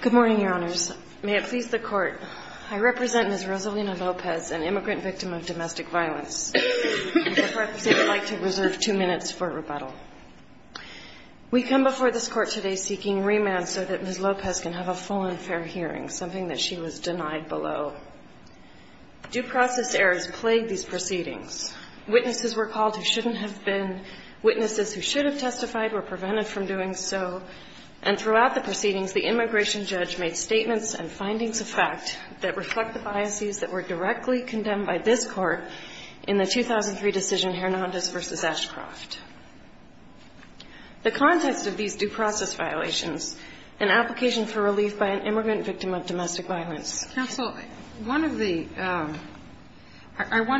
Good morning, Your Honors. May it please the Court, I represent Ms. Rosalina Lopez, an immigrant victim of domestic violence. Therefore, I would like to reserve two minutes for rebuttal. We come before this Court today seeking remand so that Ms. Lopez can have a full and fair hearing, something that she was denied below. Due process errors plagued these proceedings. Witnesses were called who shouldn't have been. Witnesses who should have testified were prevented from doing so. And throughout the proceedings, the immigration judge made statements and findings of fact that reflect the biases that were directly condemned by this Court in the 2003 decision Hernandez v. Ashcroft. The context of these due process violations, an application for relief by an immigrant victim of domestic violence. Counsel, I want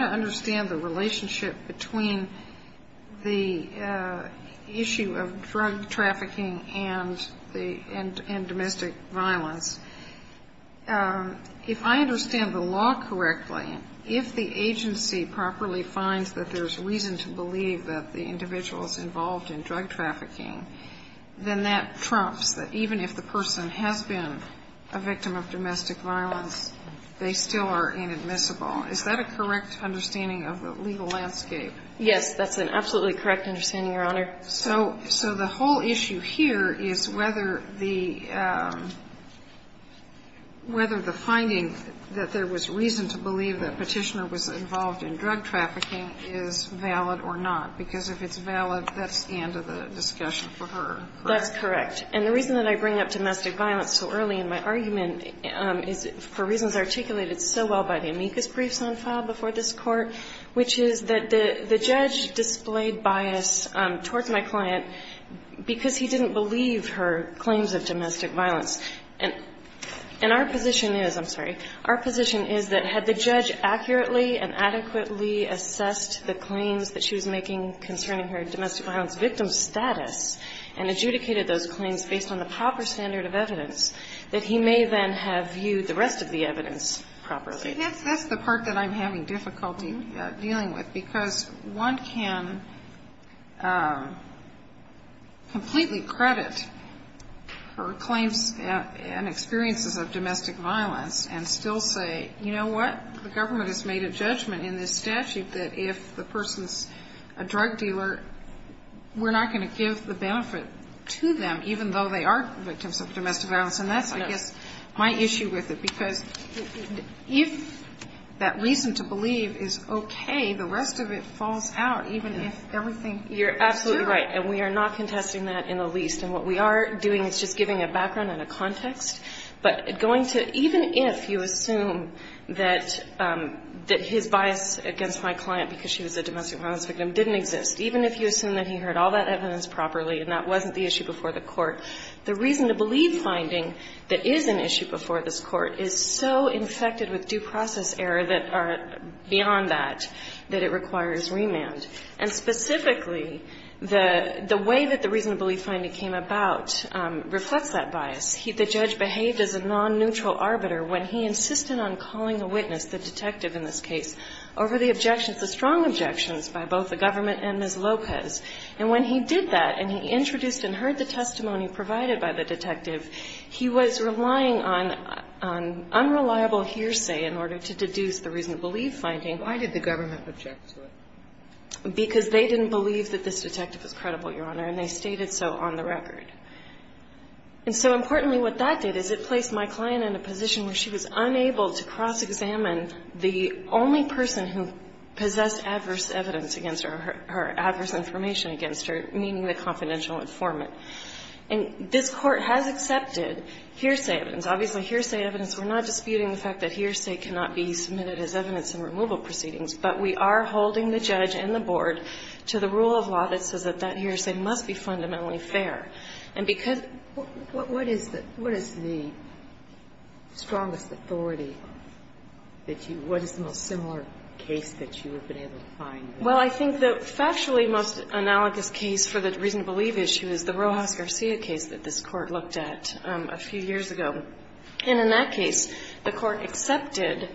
to understand the relationship between the issue of drug trafficking and domestic violence. If I understand the law correctly, if the agency properly finds that there's reason to believe that the individual is involved in drug trafficking, then that trumps that even if the person has been a victim of domestic violence, they still are inadmissible. Is that a correct understanding of the legal landscape? Yes, that's an absolutely correct understanding, Your Honor. So the whole issue here is whether the finding that there was reason to believe that Petitioner was involved in drug trafficking is valid or not. Because if it's valid, that's the end of the discussion for her, correct? That's correct. And the reason that I bring up domestic violence so early in my argument is for reasons articulated so well by the amicus briefs on file before this Court, which is that the judge displayed bias towards my client because he didn't believe her claims of domestic violence. And our position is, I'm sorry, our position is that had the judge accurately and adequately assessed the claims that she was making concerning her domestic violence victim status and adjudicated those claims based on the proper standard of evidence, that he may then have viewed the rest of the evidence properly. That's the part that I'm having difficulty dealing with. Because one can completely credit her claims and experiences of domestic violence and still say, you know what, the government has made a judgment in this statute that if the person's a drug dealer, we're not going to give the benefit to them, even though they are victims of domestic violence And that's, I guess, my issue with it. Because if that reason to believe is OK, the rest of it falls out, even if everything is true. You're absolutely right. And we are not contesting that in the least. And what we are doing is just giving a background and a context. But going to, even if you assume that his bias against my client because she was a domestic violence victim didn't exist, even if you assume that he heard all that evidence properly and that wasn't the issue before the Court, the reason to believe finding that is an issue before this Court is so infected with due process error that are beyond that, that it requires remand. And specifically, the way that the reason to believe finding came about reflects that bias. The judge behaved as a non-neutral arbiter when he insisted on calling a witness, the detective in this case, over the objections, the strong objections by both the government and Ms. Lopez. And when he did that, and he introduced and heard the testimony provided by the detective, he was relying on unreliable hearsay in order to deduce the reason to believe finding. Why did the government object to it? Because they didn't believe that this detective was credible, Your Honor, and they stated so on the record. And so importantly, what that did is it placed my client in a position where she was unable to cross-examine the only person who possessed adverse evidence against her, or adverse information against her, meaning the confidential informant. And this Court has accepted hearsay evidence. Obviously, hearsay evidence, we're not disputing the fact that hearsay cannot be submitted as evidence in removal proceedings, but we are holding the judge and the board to the rule of law that says that that hearsay must be fundamentally fair. And because, what is the strongest authority that you, what is the most similar case that you have been able to find? Well, I think the factually most analogous case for the reason to believe issue is the Rojas-Garcia case that this Court looked at a few years ago. And in that case, the Court accepted,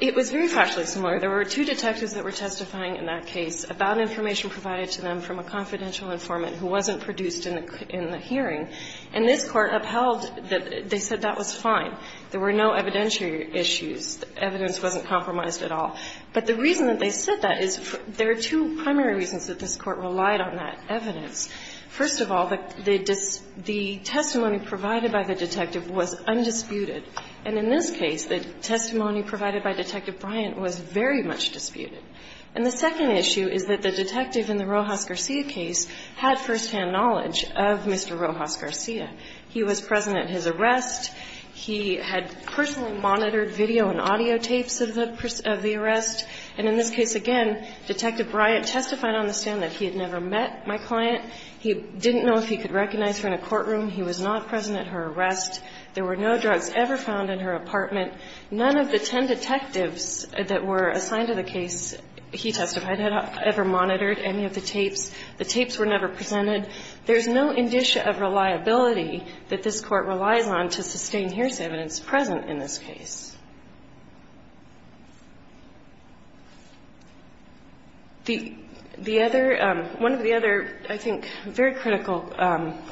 it was very factually similar. There were two detectives that were testifying in that case about information provided to them from a confidential informant who wasn't produced in the hearing. And this Court upheld that they said that was fine. There were no evidentiary issues. Evidence wasn't compromised at all. But the reason that they said that is, there are two primary reasons that this Court relied on that evidence. First of all, the testimony provided by the detective was undisputed. And in this case, the testimony provided by Detective Bryant was very much disputed. And the second issue is that the detective in the Rojas-Garcia case had firsthand knowledge of Mr. Rojas-Garcia. He was present at his arrest. He had personally monitored video and audio tapes of the arrest. And in this case, again, Detective Bryant testified on the stand that he had never met my client. He didn't know if he could recognize her in a courtroom. He was not present at her arrest. There were no drugs ever found in her apartment. None of the 10 detectives that were assigned to the case he testified had ever monitored any of the tapes. The tapes were never presented. There's no indicia of reliability that this Court relies on to sustain hearsay evidence present in this case. The other, one of the other, I think, very critical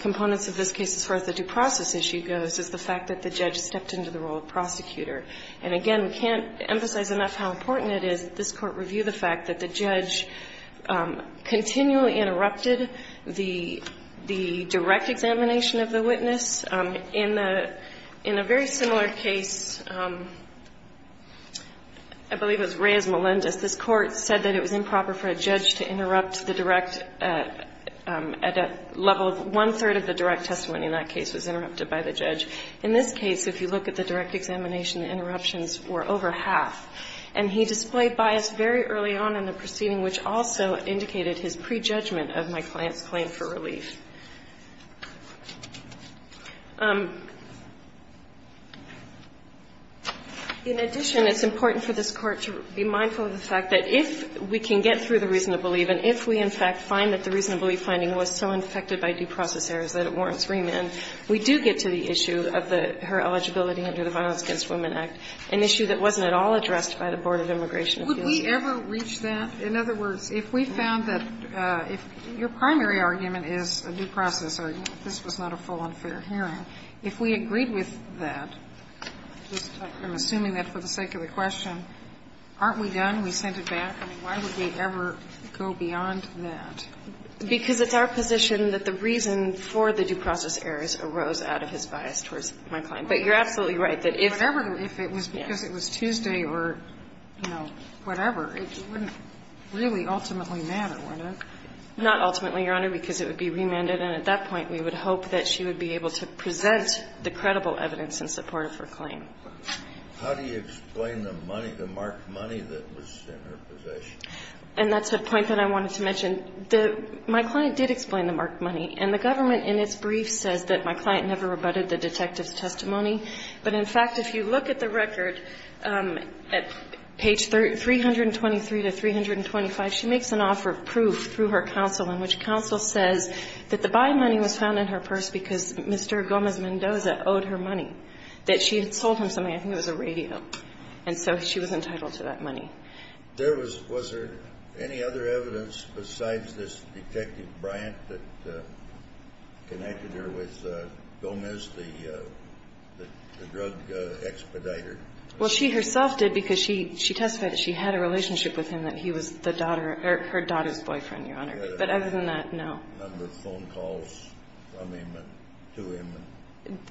components of this case as far as the due process issue goes is the fact that the judge stepped into the role of prosecutor. And again, we can't emphasize enough how important it is that this Court review the fact that the judge continually interrupted the direct examination of the witness. In a very similar case, I believe it was Reyes-Melendez, this Court said that it was improper for a judge to interrupt the direct, at a level of one-third of the direct testimony in that case was interrupted by the judge. In this case, if you look at the direct examination, the interruptions were over half. And he displayed bias very early on in the proceeding, which also indicated his prejudgment of my client's claim for relief. In addition, it's important for this Court to be mindful of the fact that if we can get through the reason to believe, and if we, in fact, find that the reason to believe finding was so infected by due process errors that it warrants remand, we do get to the issue of her eligibility under the Violence Against Women Act, an issue that wasn't at all addressed by the Board of Immigration. Would we ever reach that? In other words, if we found that, if your primary argument is a due process error, this was not a full and fair hearing, if we agreed with that, I'm assuming that for the sake of the question, aren't we done? We sent it back? I mean, why would we ever go beyond that? Because it's our position that the reason for the due process errors arose out of his bias towards my client. But you're absolutely right that if. Whatever, if it was because it was Tuesday or, you know, whatever, it wouldn't really ultimately matter to Warnock. Not ultimately, Your Honor, because it would be remanded, and at that point, we would hope that she would be able to present the credible evidence in support of her claim. How do you explain the money, the marked money that was in her possession? And that's the point that I wanted to mention. The my client did explain the marked money, and the government in its brief says that my client never rebutted the detective's testimony. But in fact, if you look at the record, at page 323 to 325, she makes an offer of proof through her counsel in which counsel says that the by money was found in her purse because Mr. Gomez-Mendoza owed her money, that she had sold him something. I think it was a radio. And so she was entitled to that money. There was, was there any other evidence besides this Detective Bryant that connected her with Gomez, the drug expediter? Well, she herself did because she testified that she had a relationship with him, that he was the daughter, or her daughter's boyfriend, Your Honor. But other than that, no. Were there phone calls from him to him?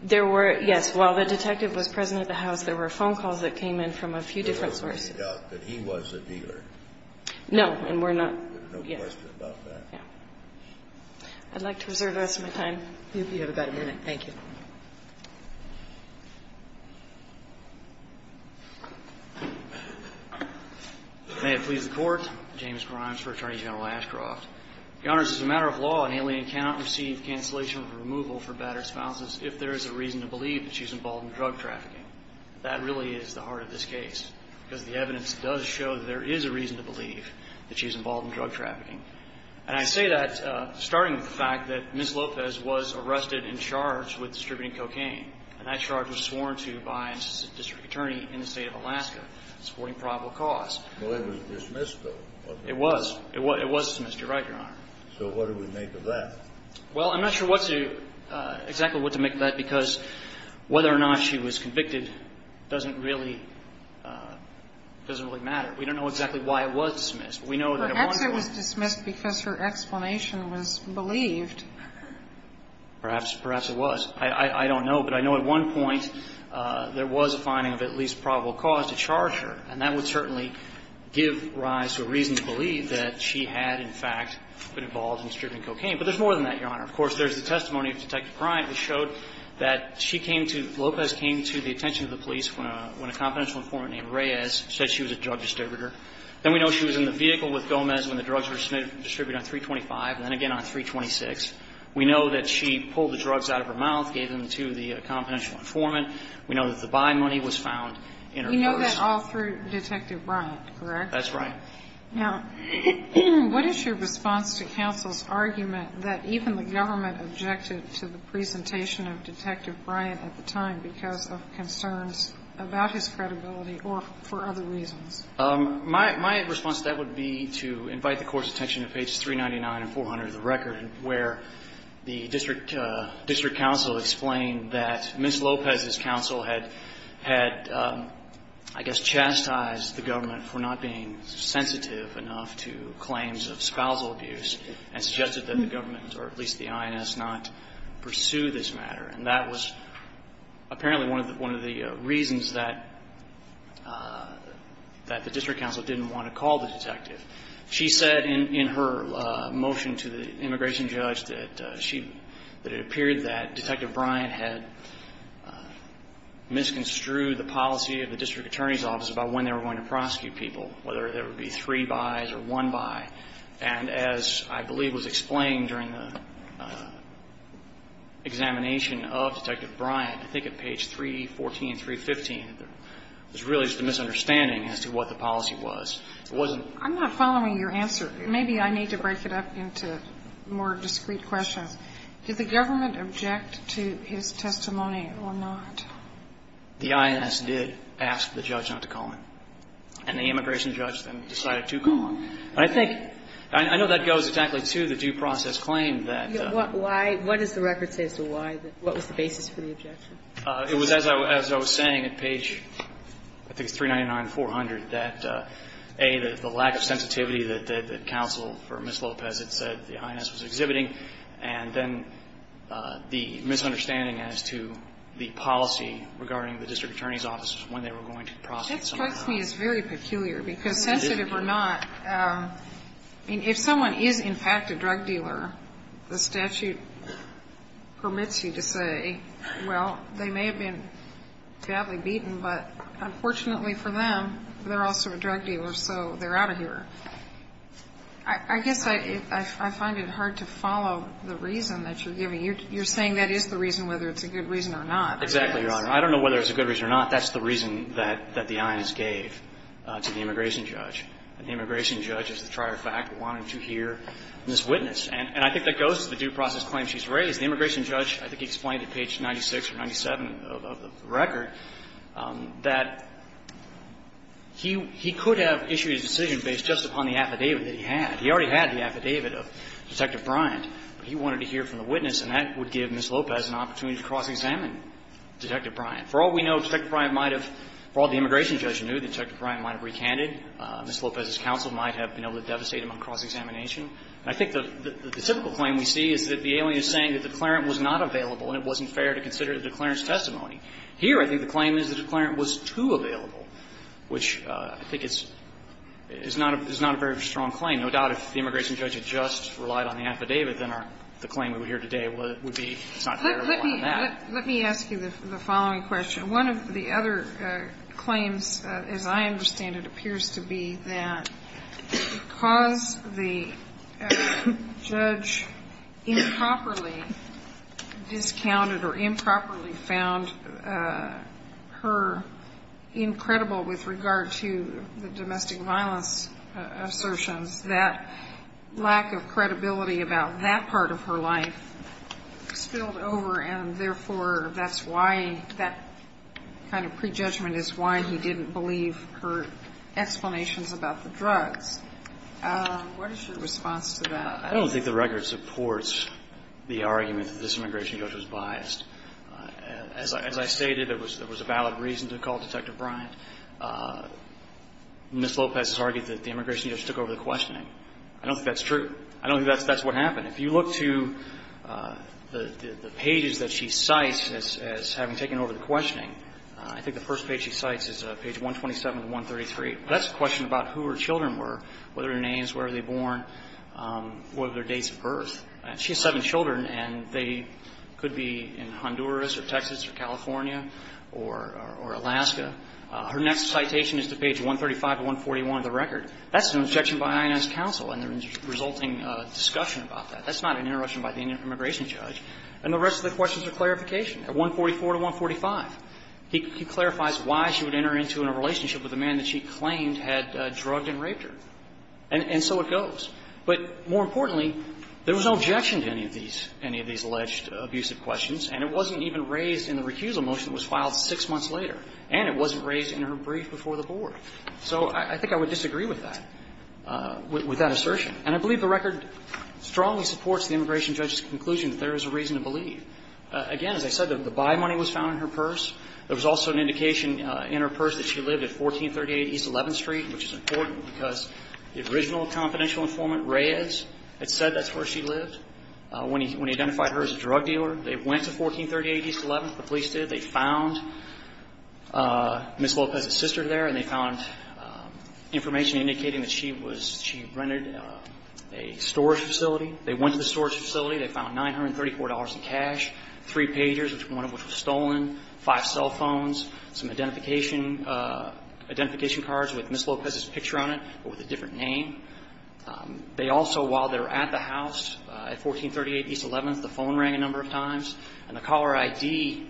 There were, yes. While the detective was present at the house, there were phone calls that came in from a few different sources. There was no doubt that he was a dealer. No, and we're not. There's no question about that. Yeah. I'd like to reserve the rest of my time. You have about a minute. Thank you. May it please the Court. James Grimes for Attorney General Ashcroft. Your Honors, as a matter of law, an alien cannot receive cancellation of removal for battered spouses if there is a reason to believe that she's involved in drug trafficking. That really is the heart of this case, because the evidence does show that there is a reason to believe that she's involved in drug trafficking. And I say that starting with the fact that Ms. Lopez was arrested and charged with distributing cocaine, and that charge was sworn to by an assistant district attorney in the state of Alaska, supporting probable cause. Well, it was dismissed, though, wasn't it? It was. It was dismissed. You're right, Your Honor. So what do we make of that? Well, I'm not sure what to do, exactly what to make of that, because whether or not she was convicted doesn't really matter. We don't know exactly why it was dismissed. We know that at one point Perhaps it was dismissed because her explanation was believed. Perhaps it was. I don't know. But I know at one point there was a finding of at least probable cause to charge her, and that would certainly give rise to a reason to believe that she had, in fact, been involved in distributing cocaine. But there's more than that, Your Honor. Of course, there's the testimony of Detective Bryant, which showed that she came to – Lopez came to the attention of the police when a confidential informant named Reyes said she was a drug distributor. Then we know she was in the vehicle with Gomez when the drugs were distributed on 325, and then again on 326. We know that she pulled the drugs out of her mouth, gave them to the confidential informant. We know that the buy money was found in her purse. You know that all through Detective Bryant, correct? That's right. Now, what is your response to counsel's argument that even the government objected to the presentation of Detective Bryant at the time because of concerns about his credibility or for other reasons? My response to that would be to invite the Court's attention to pages 399 and 400 of the record, where the district counsel explained that Ms. Lopez's counsel had, I guess, chastised the government for not being sensitive enough to claims of spousal abuse and suggested that the government, or at least the INS, not pursue this matter. And that was apparently one of the reasons that the district counsel didn't want to call the detective. She said in her motion to the immigration judge that she – that it appeared that Detective Bryant had misconstrued the policy of the district attorney's office about when they were going to prosecute people, whether there would be three buys or one buy. And as I believe was explained during the examination of Detective Bryant, I think at page 314, 315, there was really just a misunderstanding as to what the policy was. It wasn't – I'm not following your answer. Maybe I need to break it up into more discrete questions. Did the government object to his testimony or not? The INS did ask the judge not to call him. And the immigration judge then decided to call him. But I think – I know that goes exactly to the due process claim that – Why – what does the record say is the why? What was the basis for the objection? It was, as I was saying, at page, I think it's 399, 400, that, A, the lack of sensitivity that counsel for Ms. Lopez had said the INS was exhibiting, and then the misunderstanding as to the policy regarding the district attorney's office when they were going to prosecute someone. That strikes me as very peculiar because sensitive or not, if someone is in fact a drug dealer, the statute permits you to say, well, they may have been badly beaten, but unfortunately for them, they're also a drug dealer, so they're out of here. I guess I find it hard to follow the reason that you're giving. You're saying that is the reason, whether it's a good reason or not. Exactly, Your Honor. I don't know whether it's a good reason or not. That's the reason that the INS gave to the immigration judge. And the immigration judge, as a trier of fact, wanted to hear Ms. Witness. And I think that goes to the due process claim she's raised. The immigration judge, I think, explained at page 96 or 97 of the record that he could have issued his decision based just upon the affidavit that he had. He already had the affidavit of Detective Bryant, but he wanted to hear from the witness, and that would give Ms. Lopez an opportunity to cross-examine Detective Bryant. For all we know, Detective Bryant might have, for all the immigration judge knew, Detective Lopez's counsel might have been able to devastate him on cross-examination. And I think the typical claim we see is that the alien is saying that the declarant was not available and it wasn't fair to consider the declarant's testimony. Here, I think the claim is the declarant was too available, which I think is not a very strong claim. No doubt, if the immigration judge had just relied on the affidavit, then the claim we would hear today would be it's not fair to rely on that. Let me ask you the following question. One of the other claims, as I understand it, appears to be that because the judge improperly discounted or improperly found her incredible with regard to the domestic violence assertions, that lack of credibility about that part of her life spilled over and, therefore, that's why that kind of prejudgment is why he didn't believe her explanations about the drugs. What is your response to that? I don't think the record supports the argument that this immigration judge was biased. As I stated, there was a valid reason to call Detective Bryant. Ms. Lopez has argued that the immigration judge took over the questioning. I don't think that's true. I don't think that's what happened. If you look to the pages that she cites as having taken over the questioning, I think the first page she cites is page 127 to 133. That's a question about who her children were, whether their names, where were they born, what were their dates of birth. She has seven children, and they could be in Honduras or Texas or California or Alaska. Her next citation is to page 135 to 141 of the record. That's an objection by INS counsel and the resulting discussion about that. That's not an interruption by the immigration judge. And the rest of the questions are clarification. At 144 to 145, he clarifies why she would enter into a relationship with a man that she claimed had drugged and raped her. And so it goes. But more importantly, there was no objection to any of these, any of these alleged abusive questions. And it wasn't even raised in the recusal motion that was filed six months later. And it wasn't raised in her brief before the board. So I think I would disagree with that, with that assertion. And I believe the record strongly supports the immigration judge's conclusion that there is a reason to believe. Again, as I said, the buy money was found in her purse. There was also an indication in her purse that she lived at 1438 East 11th Street, which is important because the original confidential informant, Reyes, had said that's where she lived when he identified her as a drug dealer. They went to 1438 East 11th, the police did. They found Ms. Lopez's sister there and they found information indicating that she was, she rented a storage facility. They went to the storage facility. They found $934 in cash, three pagers, one of which was stolen, five cell phones, some identification, identification cards with Ms. Lopez's picture on it, but with a different name. They also, while they were at the house at 1438 East 11th, the phone rang a number of times. And the caller ID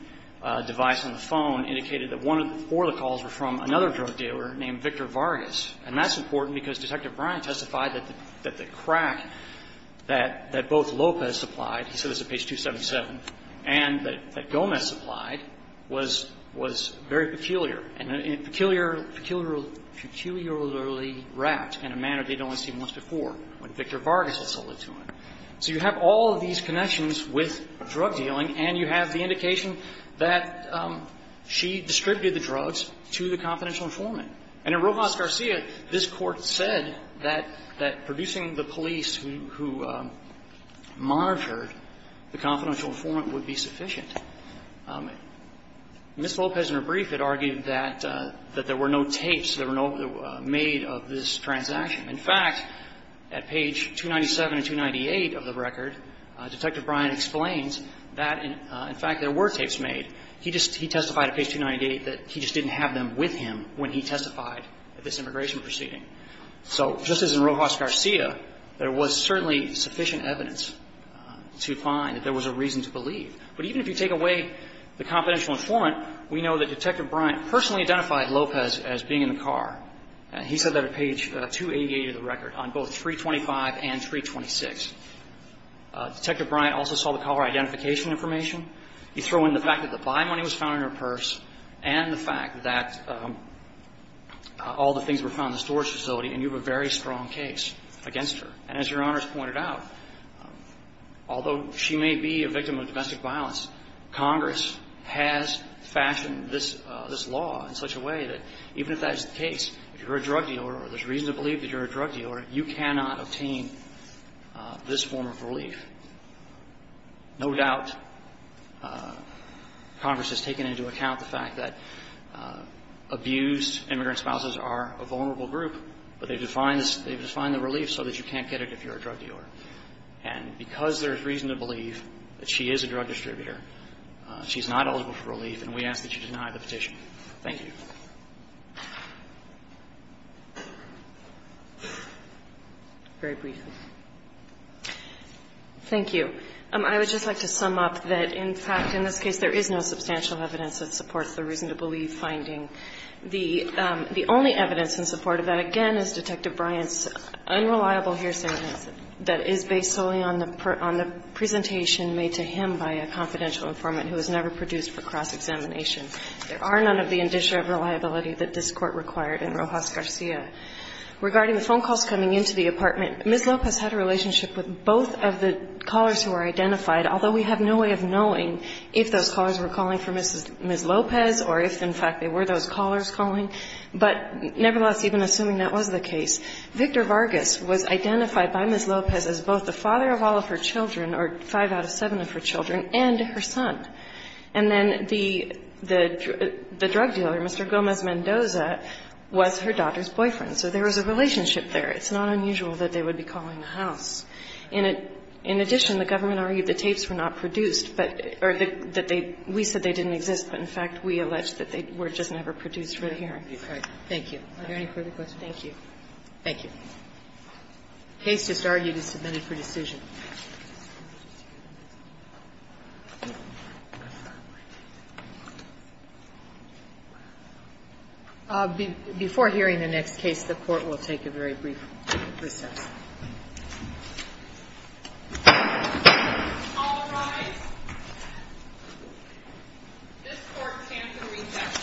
device on the phone indicated that one of the, four of the calls were from another drug dealer named Victor Vargas. And that's important because Detective Bryant testified that the crack that both Lopez supplied, he said this at page 277, and that Gomez supplied was very peculiar and peculiarly wrapped in a manner they'd only seen once before when Victor Vargas had sold it to him. So you have all of these connections with drug dealing and you have the indication that she distributed the drugs to the confidential informant. And in Rojas Garcia, this Court said that producing the police who monitored the confidential informant would be sufficient. Ms. Lopez, in her brief, had argued that there were no tapes, there were no, made of this transaction. In fact, at page 297 and 298 of the record, Detective Bryant explains that, in fact, there were tapes made. He just, he testified at page 298 that he just didn't have them with him when he testified at this immigration proceeding. So just as in Rojas Garcia, there was certainly sufficient evidence to find that there was a reason to believe. But even if you take away the confidential informant, we know that Detective Bryant personally identified Lopez as being in the car. And he said that at page 288 of the record, on both 325 and 326. Detective Bryant also saw the caller identification information. You throw in the fact that the buy money was found in her purse and the fact that all the things were found in the storage facility, and you have a very strong case against her. And as Your Honors pointed out, although she may be a victim of domestic violence, Congress has fashioned this law in such a way that even if that's the case, if you're a drug dealer or there's reason to believe that you're a drug dealer, you cannot obtain this form of relief. No doubt Congress has taken into account the fact that abused immigrant spouses are a vulnerable group, but they've defined the relief so that you can't get it if you're a drug dealer. And because there's reason to believe that she is a drug distributor, she's not eligible for relief, and we ask that you deny the petition. Thank you. Very briefly. Thank you. I would just like to sum up that, in fact, in this case, there is no substantial evidence that supports the reason to believe finding. The only evidence in support of that, again, is Detective Bryant's unreliable hearsay that is based solely on the presentation made to him by a confidential informant who was never produced for cross-examination. There are none of the indicia of reliability that this Court required in Rojas-Garcia. Regarding the phone calls coming into the apartment, Ms. Lopez had a relationship with both of the callers who were identified, although we have no way of knowing if those callers were calling for Ms. Lopez or if, in fact, they were those callers calling. But nevertheless, even assuming that was the case, Victor Vargas was identified by Ms. Lopez as both the father of all of her children, or five out of seven of her children, and her son. And then the drug dealer, Mr. Gomez-Mendoza, was her daughter's boyfriend. So there was a relationship there. It's not unusual that they would be calling the house. In addition, the government argued the tapes were not produced, but they were the we said they didn't exist, but in fact, we allege that they were just never produced for the hearing. Thank you. Are there any further questions? Thank you. Thank you. The case just argued is submitted for decision. Before hearing the next case, the Court will take a very brief recess. All rise. This Court can recess. Thank you.